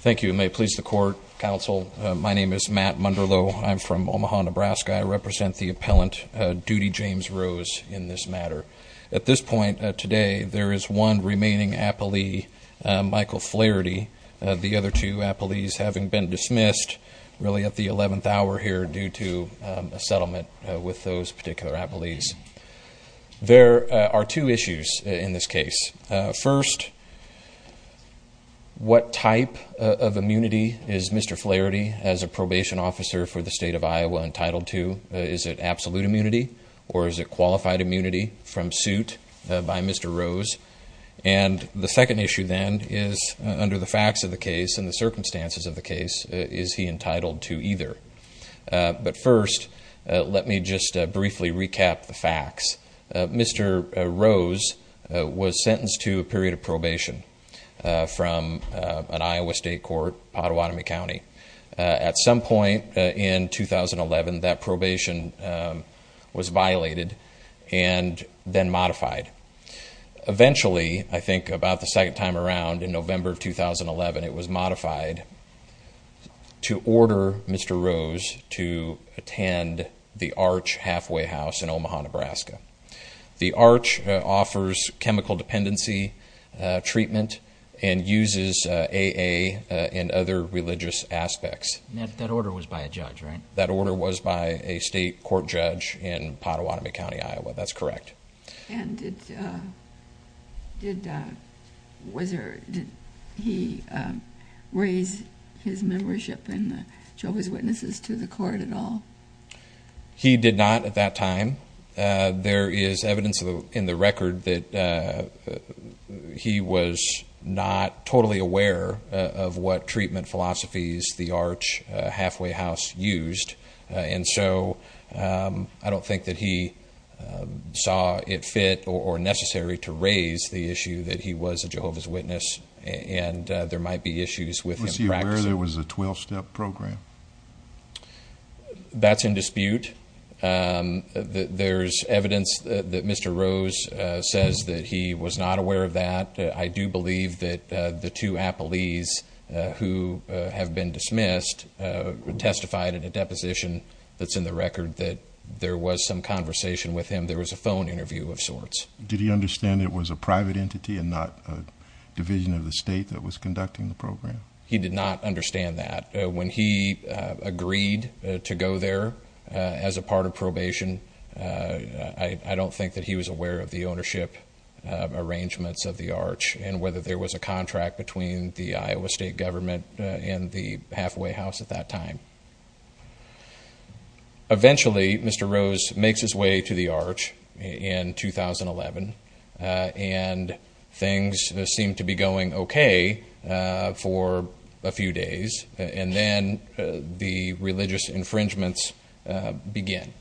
Thank you, and may it please the Court, Counsel, my name is Matt Munderloh, I'm from Omaha, Nebraska. I represent the appellant, Duty James Rose, in this matter. At this point today, there is one remaining appellee, Michael Flairty, the other two appellees having been dismissed really at the 11th hour here due to a settlement with those particular appellees. There are two issues in this case. First, what type of immunity is Mr. Flairty, as a probation officer for the State of Iowa, entitled to? Is it absolute immunity, or is it qualified immunity from suit by Mr. Rose? And the second issue then is, under the facts of the case and the circumstances of the case, is he entitled to either? But first, let me just briefly recap the facts. Mr. Rose was sentenced to a period of probation from an Iowa state court, Pottawatomie County. At some point in 2011, that probation was violated and then modified. Eventually, I think about the second time around in November 2011, it was modified to order Mr. Rose to attend the Arch halfway house in Omaha, Nebraska. The Arch offers chemical dependency treatment and uses AA and other religious aspects. That order was by a judge, right? That order was by a state court judge in Pottawatomie County, Iowa. That's correct. And did he raise his membership in the Jehovah's Witnesses to the court at all? He did not at that time. There is evidence in the record that he was not totally aware of what treatment philosophies the Arch halfway house used. And so I don't think that he saw it fit or necessary to raise the issue that he was a Jehovah's Witness and there might be issues with him practicing. Was he aware there was a 12-step program? That's in dispute. There's evidence that Mr. Rose says that he was not aware of that. I do believe that the two appellees who have been dismissed testified in a deposition that's in the record that there was some conversation with him. There was a phone interview of sorts. Did he understand it was a private entity and not a division of the state that was conducting the program? He did not understand that. When he agreed to go there as a part of probation, I don't think that he was aware of the ownership arrangements of the Arch and whether there was a contract between the Iowa state government and the halfway house at that time. Eventually, Mr. Rose makes his way to the Arch in 2011 and things seem to be going okay for a few days. And then the religious infringements begin.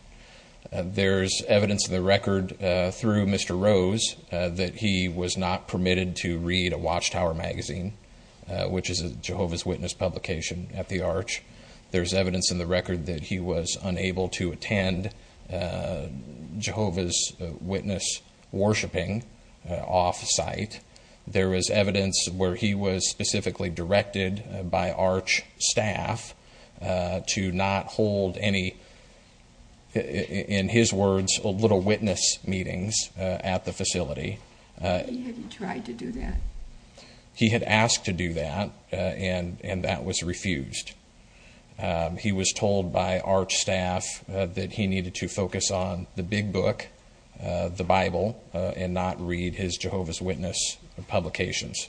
There's evidence in the record through Mr. Rose that he was not permitted to read a Watchtower magazine, which is a Jehovah's Witness publication at the Arch. There's evidence in the record that he was unable to attend Jehovah's Witness worshiping off-site. There is evidence where he was specifically directed by Arch staff to not hold any, in his words, little witness meetings at the facility. He had tried to do that. He had asked to do that and that was refused. He was told by Arch staff that he needed to focus on the big book, the Bible, and not read his Jehovah's Witness publications.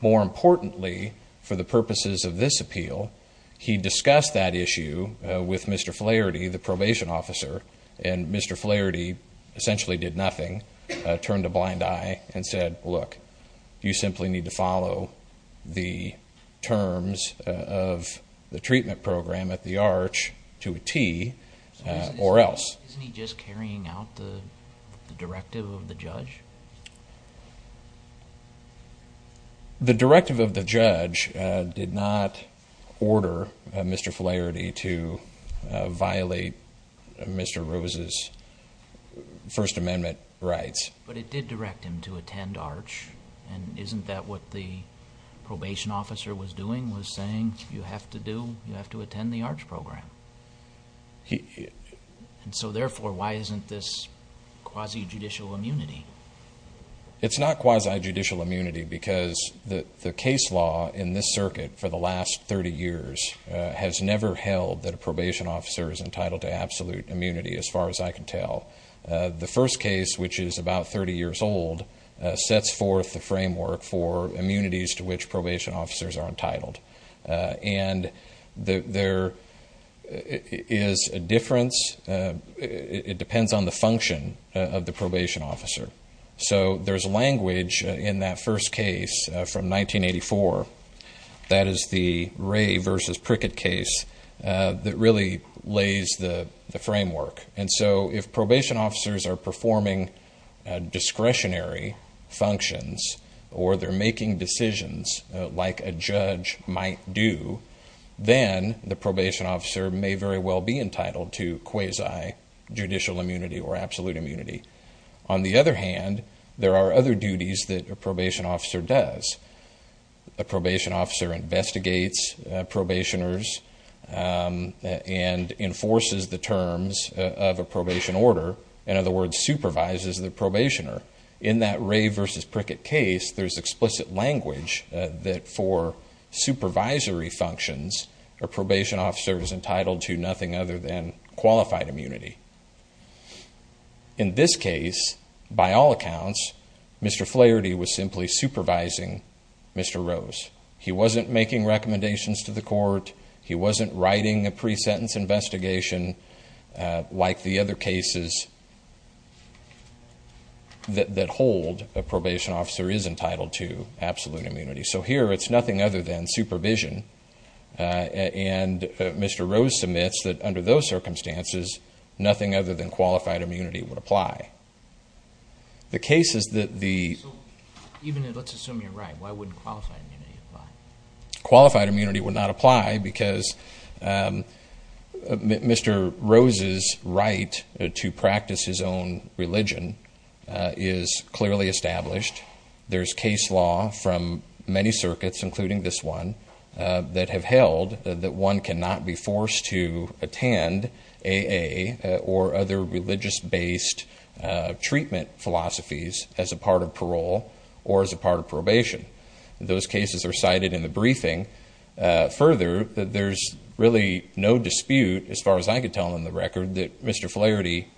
More importantly, for the purposes of this appeal, he discussed that issue with Mr. Flaherty, the probation officer. And Mr. Flaherty essentially did nothing, turned a blind eye and said, look, you simply need to follow the terms of the treatment program at the Arch to a T or else. Isn't he just carrying out the directive of the judge? The directive of the judge did not order Mr. Flaherty to violate Mr. Rose's First Amendment rights. But it did direct him to attend Arch. And isn't that what the probation officer was doing, was saying, you have to do, you have to attend the Arch program? And so, therefore, why isn't this quasi-judicial immunity? It's not quasi-judicial immunity because the case law in this circuit for the last 30 years has never held that a probation officer is entitled to absolute immunity, as far as I can tell. The first case, which is about 30 years old, sets forth the framework for immunities to which probation officers are entitled. And there is a difference. It depends on the function of the probation officer. So there's language in that first case from 1984. That is the Ray v. Prickett case that really lays the framework. And so if probation officers are performing discretionary functions or they're making decisions like a judge might do, then the probation officer may very well be entitled to quasi-judicial immunity or absolute immunity. On the other hand, there are other duties that a probation officer does. A probation officer investigates probationers and enforces the terms of a probation order. In other words, supervises the probationer. In that Ray v. Prickett case, there's explicit language that for supervisory functions, a probation officer is entitled to nothing other than qualified immunity. In this case, by all accounts, Mr. Flaherty was simply supervising Mr. Rose. He wasn't making recommendations to the court. He wasn't writing a pre-sentence investigation like the other cases that hold a probation officer is entitled to absolute immunity. So here, it's nothing other than supervision. And Mr. Rose submits that under those circumstances, nothing other than qualified immunity would apply. The case is that the… Even if let's assume you're right, why wouldn't qualified immunity apply? Qualified immunity would not apply because Mr. Rose's right to practice his own religion is clearly established. There's case law from many circuits, including this one, that have held that one cannot be forced to attend A.A. or other religious-based treatment philosophies as a part of parole or as a part of probation. Those cases are cited in the briefing. Further, there's really no dispute, as far as I could tell on the record, that Mr. Flaherty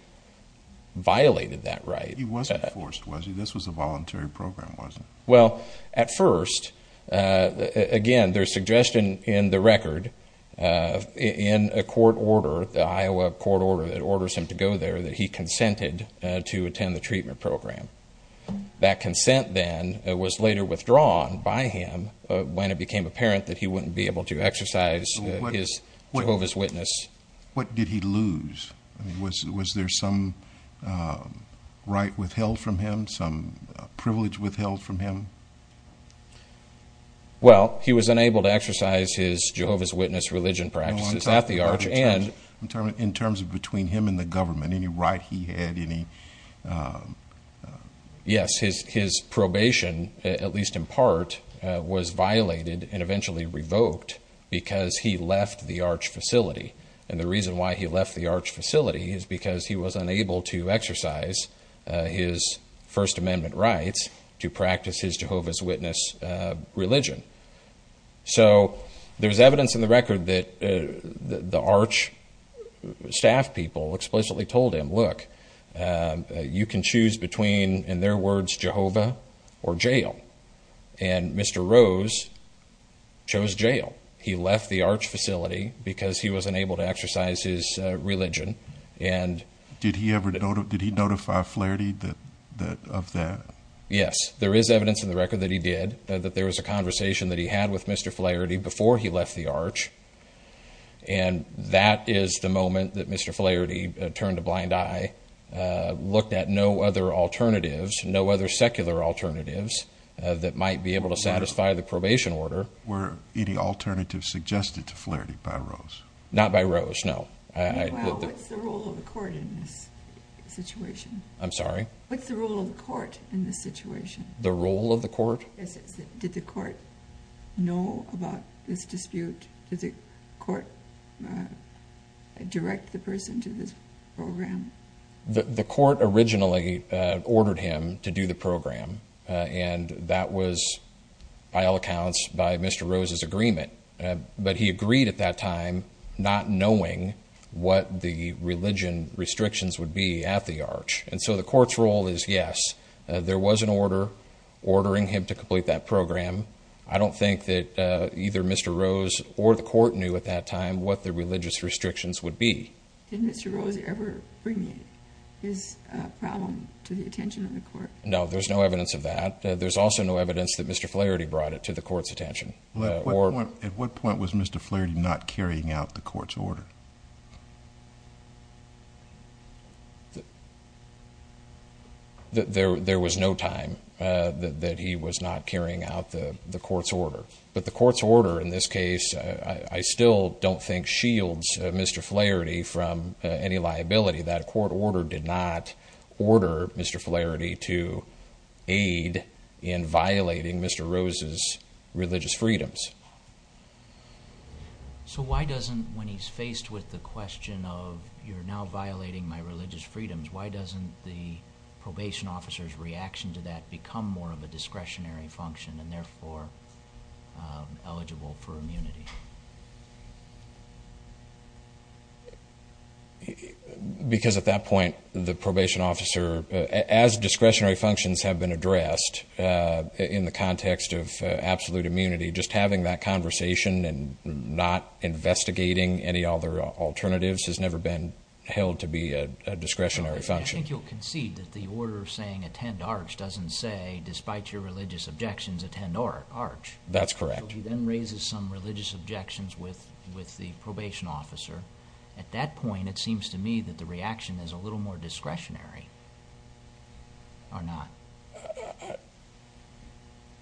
violated that right. He wasn't forced, was he? This was a voluntary program, wasn't it? Well, at first, again, there's suggestion in the record in a court order, the Iowa court order that orders him to go there, that he consented to attend the treatment program. That consent then was later withdrawn by him when it became apparent that he wouldn't be able to exercise his Jehovah's Witness. What did he lose? Was there some right withheld from him, some privilege withheld from him? Well, he was unable to exercise his Jehovah's Witness religion practices at the Arch. I'm talking in terms of between him and the government, any right he had, any – Yes, his probation, at least in part, was violated and eventually revoked because he left the Arch facility. And the reason why he left the Arch facility is because he was unable to exercise his First Amendment rights to practice his Jehovah's Witness religion. So there's evidence in the record that the Arch staff people explicitly told him, look, you can choose between, in their words, Jehovah or jail. And Mr. Rose chose jail. He left the Arch facility because he was unable to exercise his religion. Did he notify Flaherty of that? Yes. There is evidence in the record that he did, that there was a conversation that he had with Mr. Flaherty before he left the Arch. And that is the moment that Mr. Flaherty turned a blind eye, looked at no other alternatives, no other secular alternatives that might be able to satisfy the probation order. Were any alternatives suggested to Flaherty by Rose? Not by Rose, no. Well, what's the role of the court in this situation? I'm sorry? What's the role of the court in this situation? The role of the court? Did the court know about this dispute? Did the court direct the person to this program? The court originally ordered him to do the program, and that was, by all accounts, by Mr. Rose's agreement. But he agreed at that time not knowing what the religion restrictions would be at the Arch. And so the court's role is, yes, there was an order ordering him to complete that program. I don't think that either Mr. Rose or the court knew at that time what the religious restrictions would be. Did Mr. Rose ever bring his problem to the attention of the court? No, there's no evidence of that. There's also no evidence that Mr. Flaherty brought it to the court's attention. At what point was Mr. Flaherty not carrying out the court's order? There was no time that he was not carrying out the court's order. But the court's order in this case I still don't think shields Mr. Flaherty from any liability. That court order did not order Mr. Flaherty to aid in violating Mr. Rose's religious freedoms. So why doesn't, when he's faced with the question of, you're now violating my religious freedoms, why doesn't the probation officer's reaction to that become more of a discretionary function and therefore eligible for immunity? Because at that point the probation officer, as discretionary functions have been addressed, in the context of absolute immunity, just having that conversation and not investigating any other alternatives has never been held to be a discretionary function. I think you'll concede that the order saying attend ARCH doesn't say, despite your religious objections, attend ARCH. That's correct. So he then raises some religious objections with the probation officer. At that point it seems to me that the reaction is a little more discretionary, or not?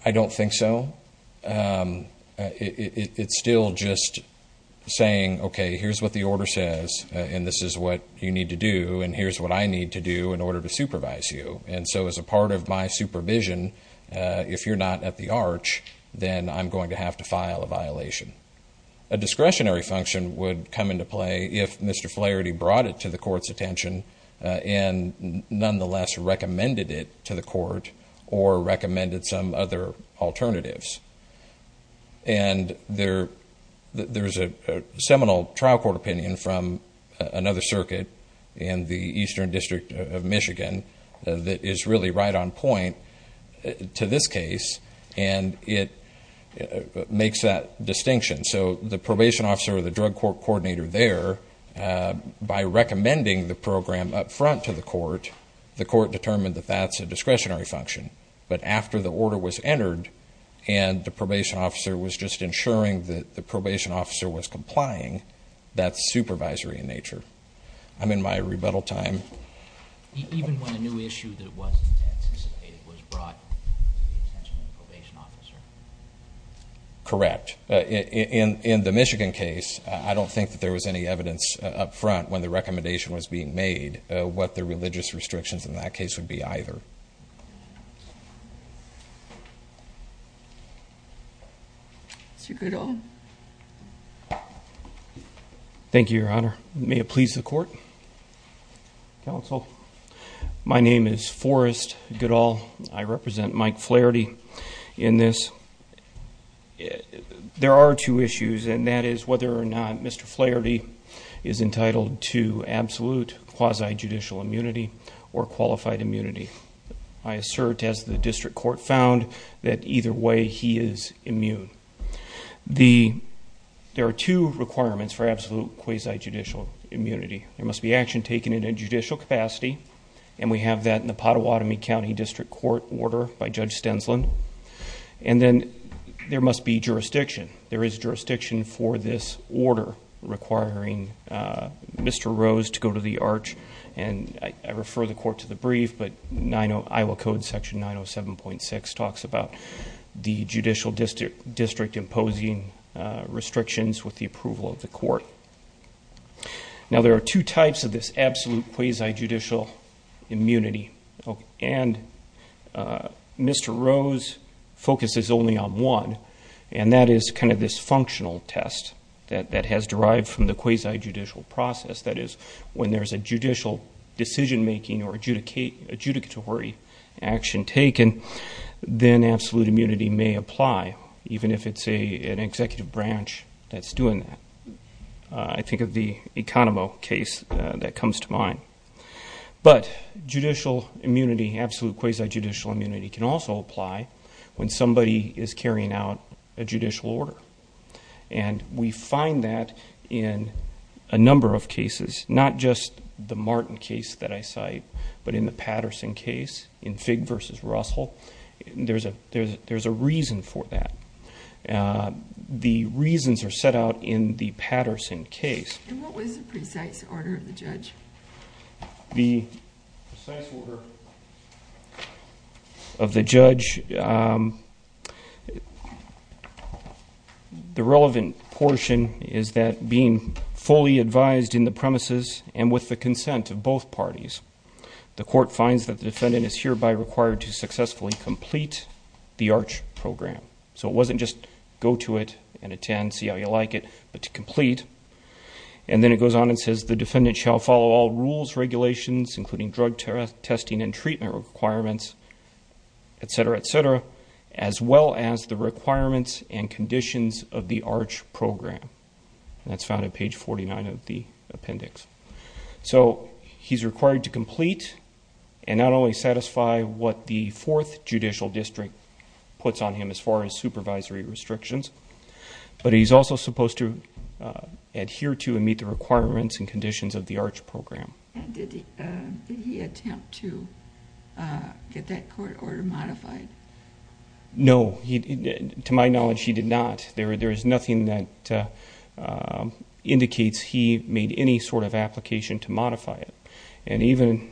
I don't think so. It's still just saying, okay, here's what the order says, and this is what you need to do, and here's what I need to do in order to supervise you. And so as a part of my supervision, if you're not at the ARCH, then I'm going to have to file a violation. A discretionary function would come into play if Mr. Flaherty brought it to the court's attention and nonetheless recommended it to the court or recommended some other alternatives. And there's a seminal trial court opinion from another circuit in the Eastern District of Michigan that is really right on point to this case, and it makes that distinction. So the probation officer or the drug court coordinator there, by recommending the program up front to the court, the court determined that that's a discretionary function. But after the order was entered and the probation officer was just ensuring that the probation officer was complying, that's supervisory in nature. I'm in my rebuttal time. Even when a new issue that wasn't anticipated was brought to the attention of the probation officer? Correct. In the Michigan case, I don't think that there was any evidence up front when the recommendation was being made what the religious restrictions in that case would be either. Mr. Goodall. Thank you, Your Honor. May it please the court. Counsel. My name is Forrest Goodall. I represent Mike Flaherty in this. There are two issues, and that is whether or not Mr. Flaherty is entitled to absolute quasi-judicial immunity or qualified immunity. I assert, as the district court found, that either way he is immune. There are two requirements for absolute quasi-judicial immunity. There must be action taken in a judicial capacity, and we have that in the Pottawatomie County District Court order by Judge Stensland. And then there must be jurisdiction. There is jurisdiction for this order requiring Mr. Rose to go to the arch, and I refer the court to the brief, but Iowa Code Section 907.6 talks about the judicial district imposing restrictions with the approval of the court. Now, there are two types of this absolute quasi-judicial immunity, and Mr. Rose focuses only on one, and that is kind of this functional test that has derived from the quasi-judicial process. That is, when there is a judicial decision-making or adjudicatory action taken, then absolute immunity may apply, even if it's an executive branch that's doing that. I think of the Economo case that comes to mind. But judicial immunity, absolute quasi-judicial immunity, can also apply when somebody is carrying out a judicial order, and we find that in a number of cases, not just the Martin case that I cite, but in the Patterson case, in Figg v. Russell, there's a reason for that. The reasons are set out in the Patterson case. And what was the precise order of the judge? The precise order of the judge, the relevant portion is that being fully advised in the premises and with the consent of both parties, the court finds that the defendant is hereby required to successfully complete the ARCH program. So it wasn't just go to it and attend, see how you like it, but to complete. And then it goes on and says the defendant shall follow all rules, regulations, including drug testing and treatment requirements, et cetera, et cetera, as well as the requirements and conditions of the ARCH program. And that's found at page 49 of the appendix. So he's required to complete and not only satisfy what the fourth judicial district puts on him as far as supervisory restrictions, but he's also supposed to adhere to and meet the requirements and conditions of the ARCH program. Did he attempt to get that court order modified? No. To my knowledge, he did not. There is nothing that indicates he made any sort of application to modify it. And even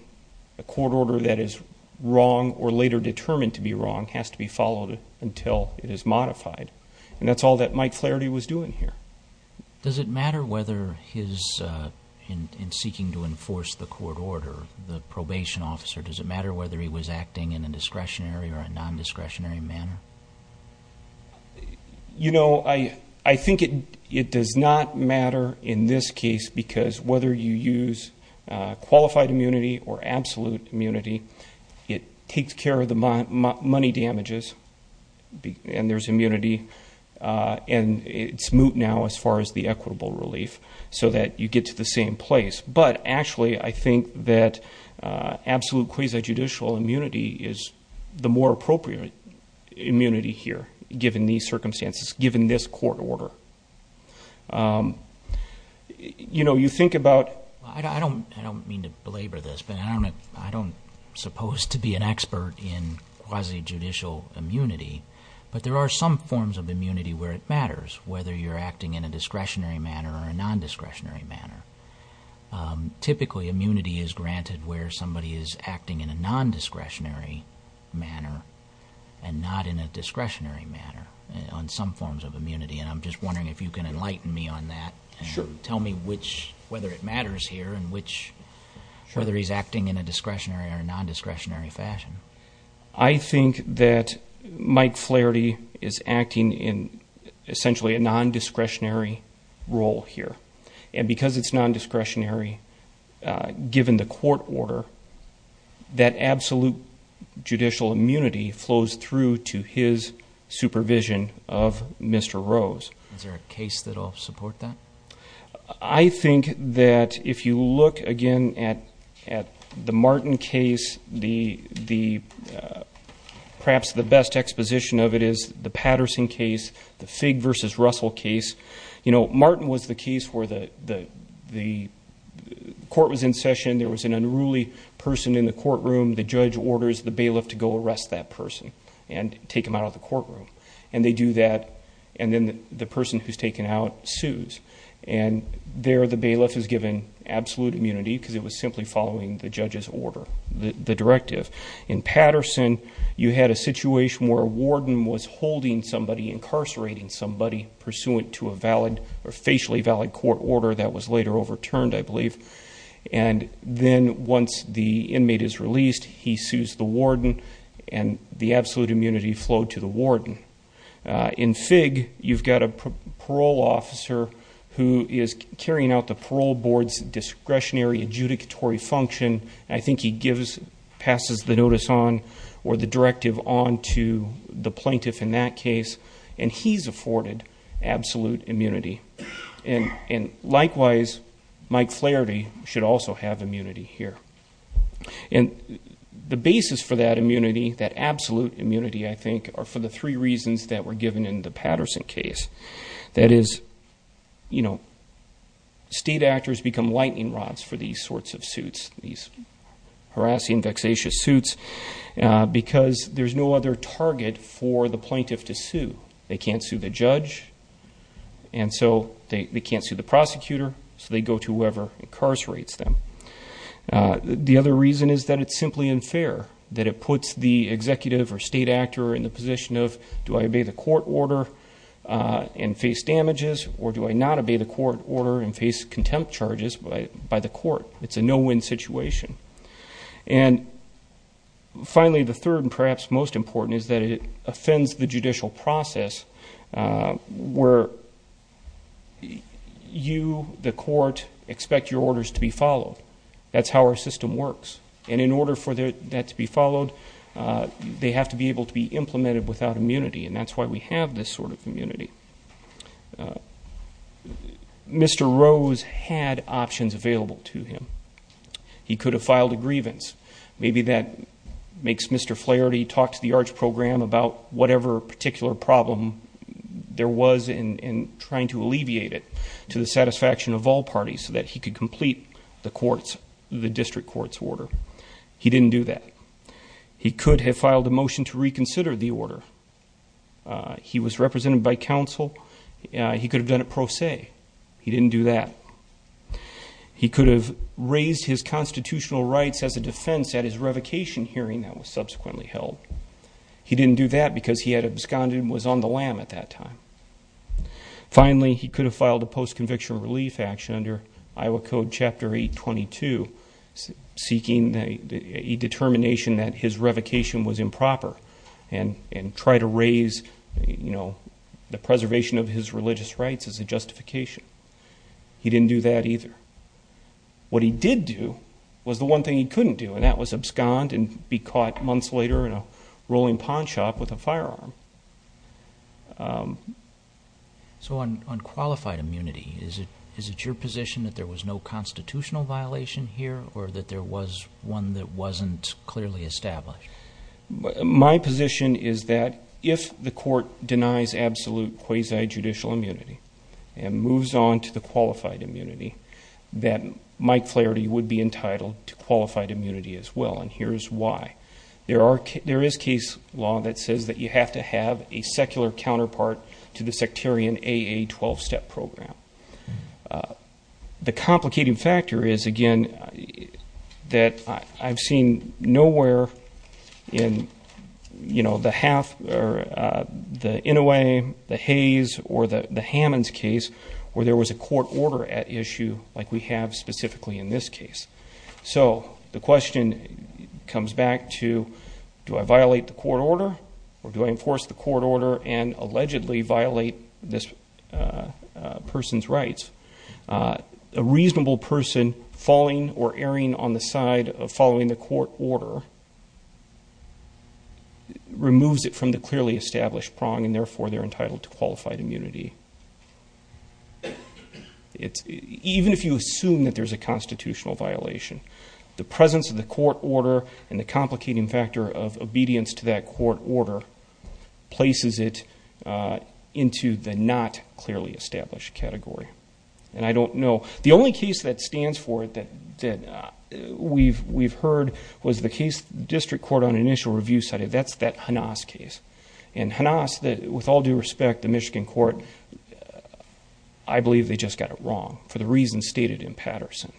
a court order that is wrong or later determined to be wrong has to be followed until it is modified. And that's all that Mike Flaherty was doing here. Does it matter whether he's in seeking to enforce the court order, the probation officer, does it matter whether he was acting in a discretionary or a non-discretionary manner? You know, I think it does not matter in this case because whether you use qualified immunity or absolute immunity, it takes care of the money damages and there's immunity, and it's moot now as far as the equitable relief so that you get to the same place. But actually, I think that absolute quasi-judicial immunity is the more appropriate immunity here, given these circumstances, given this court order. You know, you think about- I don't mean to belabor this, but I don't suppose to be an expert in quasi-judicial immunity, but there are some forms of immunity where it matters, whether you're acting in a discretionary manner or a non-discretionary manner. Typically, immunity is granted where somebody is acting in a non-discretionary manner and not in a discretionary manner on some forms of immunity, and I'm just wondering if you can enlighten me on that and tell me whether it matters here and whether he's acting in a discretionary or non-discretionary fashion. I think that Mike Flaherty is acting in essentially a non-discretionary role here, and because it's non-discretionary, given the court order, that absolute judicial immunity flows through to his supervision of Mr. Rose. Is there a case that will support that? I think that if you look again at the Martin case, perhaps the best exposition of it is the Patterson case, the Figg v. Russell case. You know, Martin was the case where the court was in session, there was an unruly person in the courtroom, the judge orders the bailiff to go arrest that person and take him out of the courtroom, and they do that, and then the person who's taken out sues, and there the bailiff is given absolute immunity because it was simply following the judge's order, the directive. In Patterson, you had a situation where a warden was holding somebody, incarcerating somebody, pursuant to a valid or facially valid court order that was later overturned, I believe, and then once the inmate is released, he sues the warden, and the absolute immunity flowed to the warden. In Figg, you've got a parole officer who is carrying out the parole board's discretionary adjudicatory function, and I think he passes the notice on or the directive on to the plaintiff in that case, and he's afforded absolute immunity. And likewise, Mike Flaherty should also have immunity here. And the basis for that immunity, that absolute immunity, I think, are for the three reasons that were given in the Patterson case. That is, you know, state actors become lightning rods for these sorts of suits, these harassing, vexatious suits, because there's no other target for the plaintiff to sue. They can't sue the judge, and so they can't sue the prosecutor, so they go to whoever incarcerates them. The other reason is that it's simply unfair, that it puts the executive or state actor in the position of, do I obey the court order and face damages, or do I not obey the court order and face contempt charges by the court? It's a no-win situation. And finally, the third and perhaps most important is that it offends the judicial process where you, the court, expect your orders to be followed. That's how our system works. And in order for that to be followed, they have to be able to be implemented without immunity, and that's why we have this sort of immunity. Mr. Rose had options available to him. He could have filed a grievance. Maybe that makes Mr. Flaherty talk to the ARCH program about whatever particular problem there was in trying to alleviate it to the satisfaction of all parties so that he could complete the district court's order. He didn't do that. He could have filed a motion to reconsider the order. He was represented by counsel. He could have done it pro se. He didn't do that. He could have raised his constitutional rights as a defense at his revocation hearing that was subsequently held. He didn't do that because he had absconded and was on the lam at that time. Finally, he could have filed a post-conviction relief action under Iowa Code Chapter 822, seeking a determination that his revocation was improper and try to raise the preservation of his religious rights as a justification. He didn't do that either. What he did do was the one thing he couldn't do, and that was abscond and be caught months later in a rolling pawn shop with a firearm. So on qualified immunity, is it your position that there was no constitutional violation here or that there was one that wasn't clearly established? My position is that if the court denies absolute quasi-judicial immunity and moves on to the qualified immunity, then Mike Flaherty would be entitled to qualified immunity as well, and here's why. There is case law that says that you have to have a secular counterpart to the sectarian AA 12-step program. The complicating factor is, again, that I've seen nowhere in, you know, the half or the Inouye, the Hayes, or the Hammons case where there was a court order at issue like we have specifically in this case. So the question comes back to do I violate the court order or do I enforce the court order and allegedly violate this person's rights? A reasonable person falling or erring on the side of following the court order removes it from the clearly established prong, and, therefore, they're entitled to qualified immunity. Even if you assume that there's a constitutional violation, the presence of the court order and the complicating factor of obedience to that court order places it into the not clearly established category, and I don't know. The only case that stands for it that we've heard was the case of the district court on an initial review study. That's that Hanas case, and Hanas, with all due respect, the Michigan court, I believe they just got it wrong for the reasons stated in Patterson.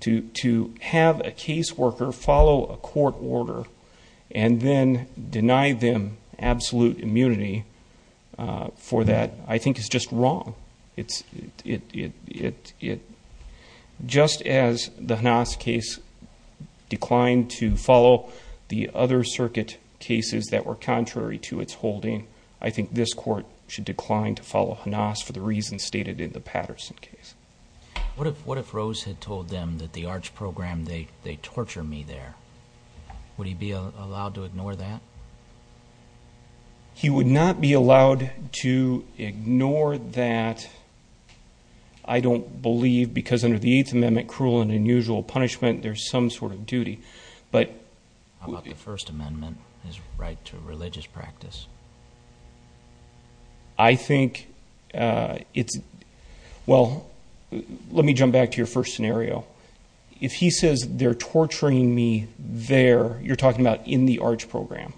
To have a caseworker follow a court order and then deny them absolute immunity for that I think is just wrong. Just as the Hanas case declined to follow the other circuit cases that were contrary to its holding, I think this court should decline to follow Hanas for the reasons stated in the Patterson case. What if Rose had told them that the ARCH program, they torture me there? Would he be allowed to ignore that? He would not be allowed to ignore that, I don't believe, because under the Eighth Amendment, cruel and unusual punishment, there's some sort of duty. How about the First Amendment, his right to religious practice? I think it's, well, let me jump back to your first scenario. If he says they're torturing me there, you're talking about in the ARCH program.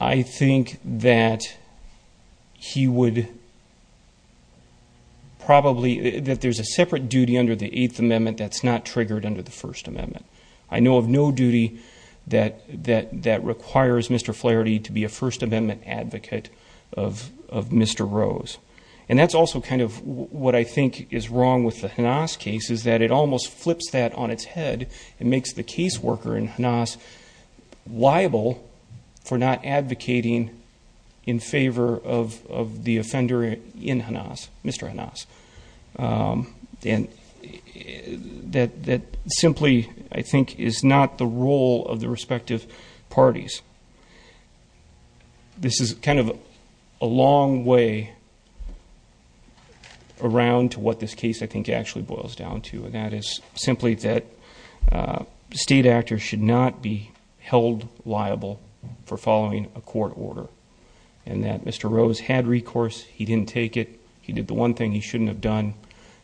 I think that he would probably, that there's a separate duty under the Eighth Amendment that's not triggered under the First Amendment. I know of no duty that requires Mr. Flaherty to be a First Amendment advocate of Mr. Rose. And that's also kind of what I think is wrong with the Hanas case is that it almost flips that on its head and makes the caseworker in Hanas liable for not advocating in favor of the offender in Hanas, Mr. Hanas. And that simply, I think, is not the role of the respective parties. This is kind of a long way around to what this case, I think, actually boils down to, and that is simply that state actors should not be held liable for following a court order and that Mr. Rose had recourse. He didn't take it. He did the one thing he shouldn't have done,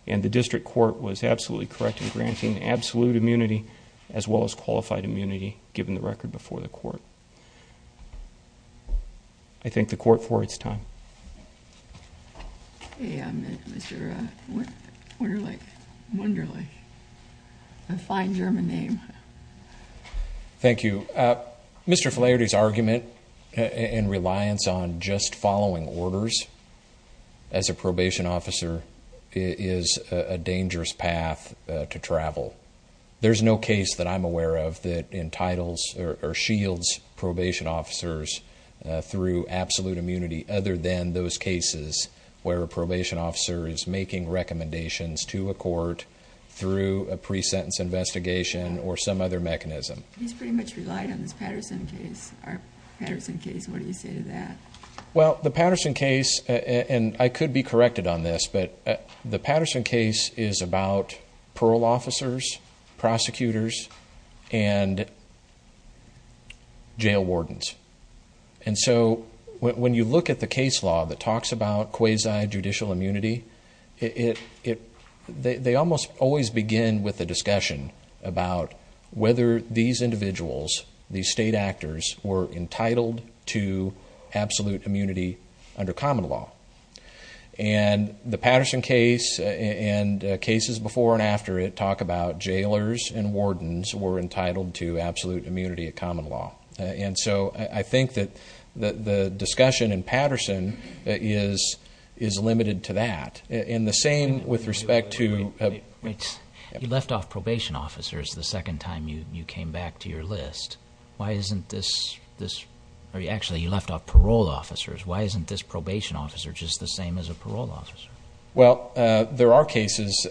and the district court was absolutely correct in granting absolute immunity as well as qualified immunity given the record before the court. I thank the court for its time. Hey, Mr. Wunderlich, a fine German name. Thank you. Mr. Flaherty's argument in reliance on just following orders as a probation officer is a dangerous path to travel. There's no case that I'm aware of that entitles or shields probation officers through absolute immunity other than those cases where a probation officer is making recommendations to a court through a pre-sentence investigation or some other mechanism. He's pretty much relied on this Patterson case. Our Patterson case, what do you say to that? Well, the Patterson case, and I could be corrected on this, but the Patterson case is about parole officers, prosecutors, and jail wardens. And so when you look at the case law that talks about quasi-judicial immunity, they almost always begin with a discussion about whether these individuals, these state actors, were entitled to absolute immunity under common law. And the Patterson case and cases before and after it talk about jailers and wardens were entitled to absolute immunity of common law. And so I think that the discussion in Patterson is limited to that. And the same with respect to- Wait. You left off probation officers the second time you came back to your list. Why isn't this-actually, you left off parole officers. Why isn't this probation officer just the same as a parole officer? Well, there are cases,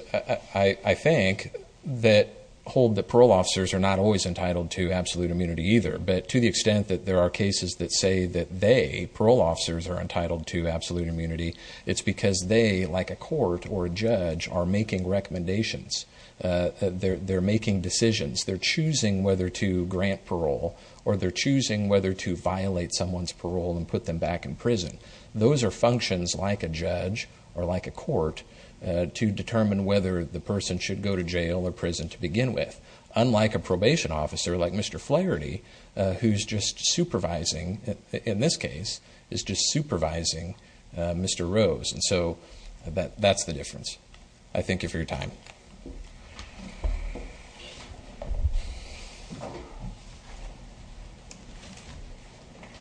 I think, that hold that parole officers are not always entitled to absolute immunity either. But to the extent that there are cases that say that they, parole officers, are entitled to absolute immunity, it's because they, like a court or a judge, are making recommendations. They're making decisions. They're choosing whether to grant parole or they're choosing whether to violate someone's parole and put them back in prison. Those are functions, like a judge or like a court, to determine whether the person should go to jail or prison to begin with. Unlike a probation officer, like Mr. Flaherty, who's just supervising, in this case, is just supervising Mr. Rose. And so that's the difference. I thank you for your time.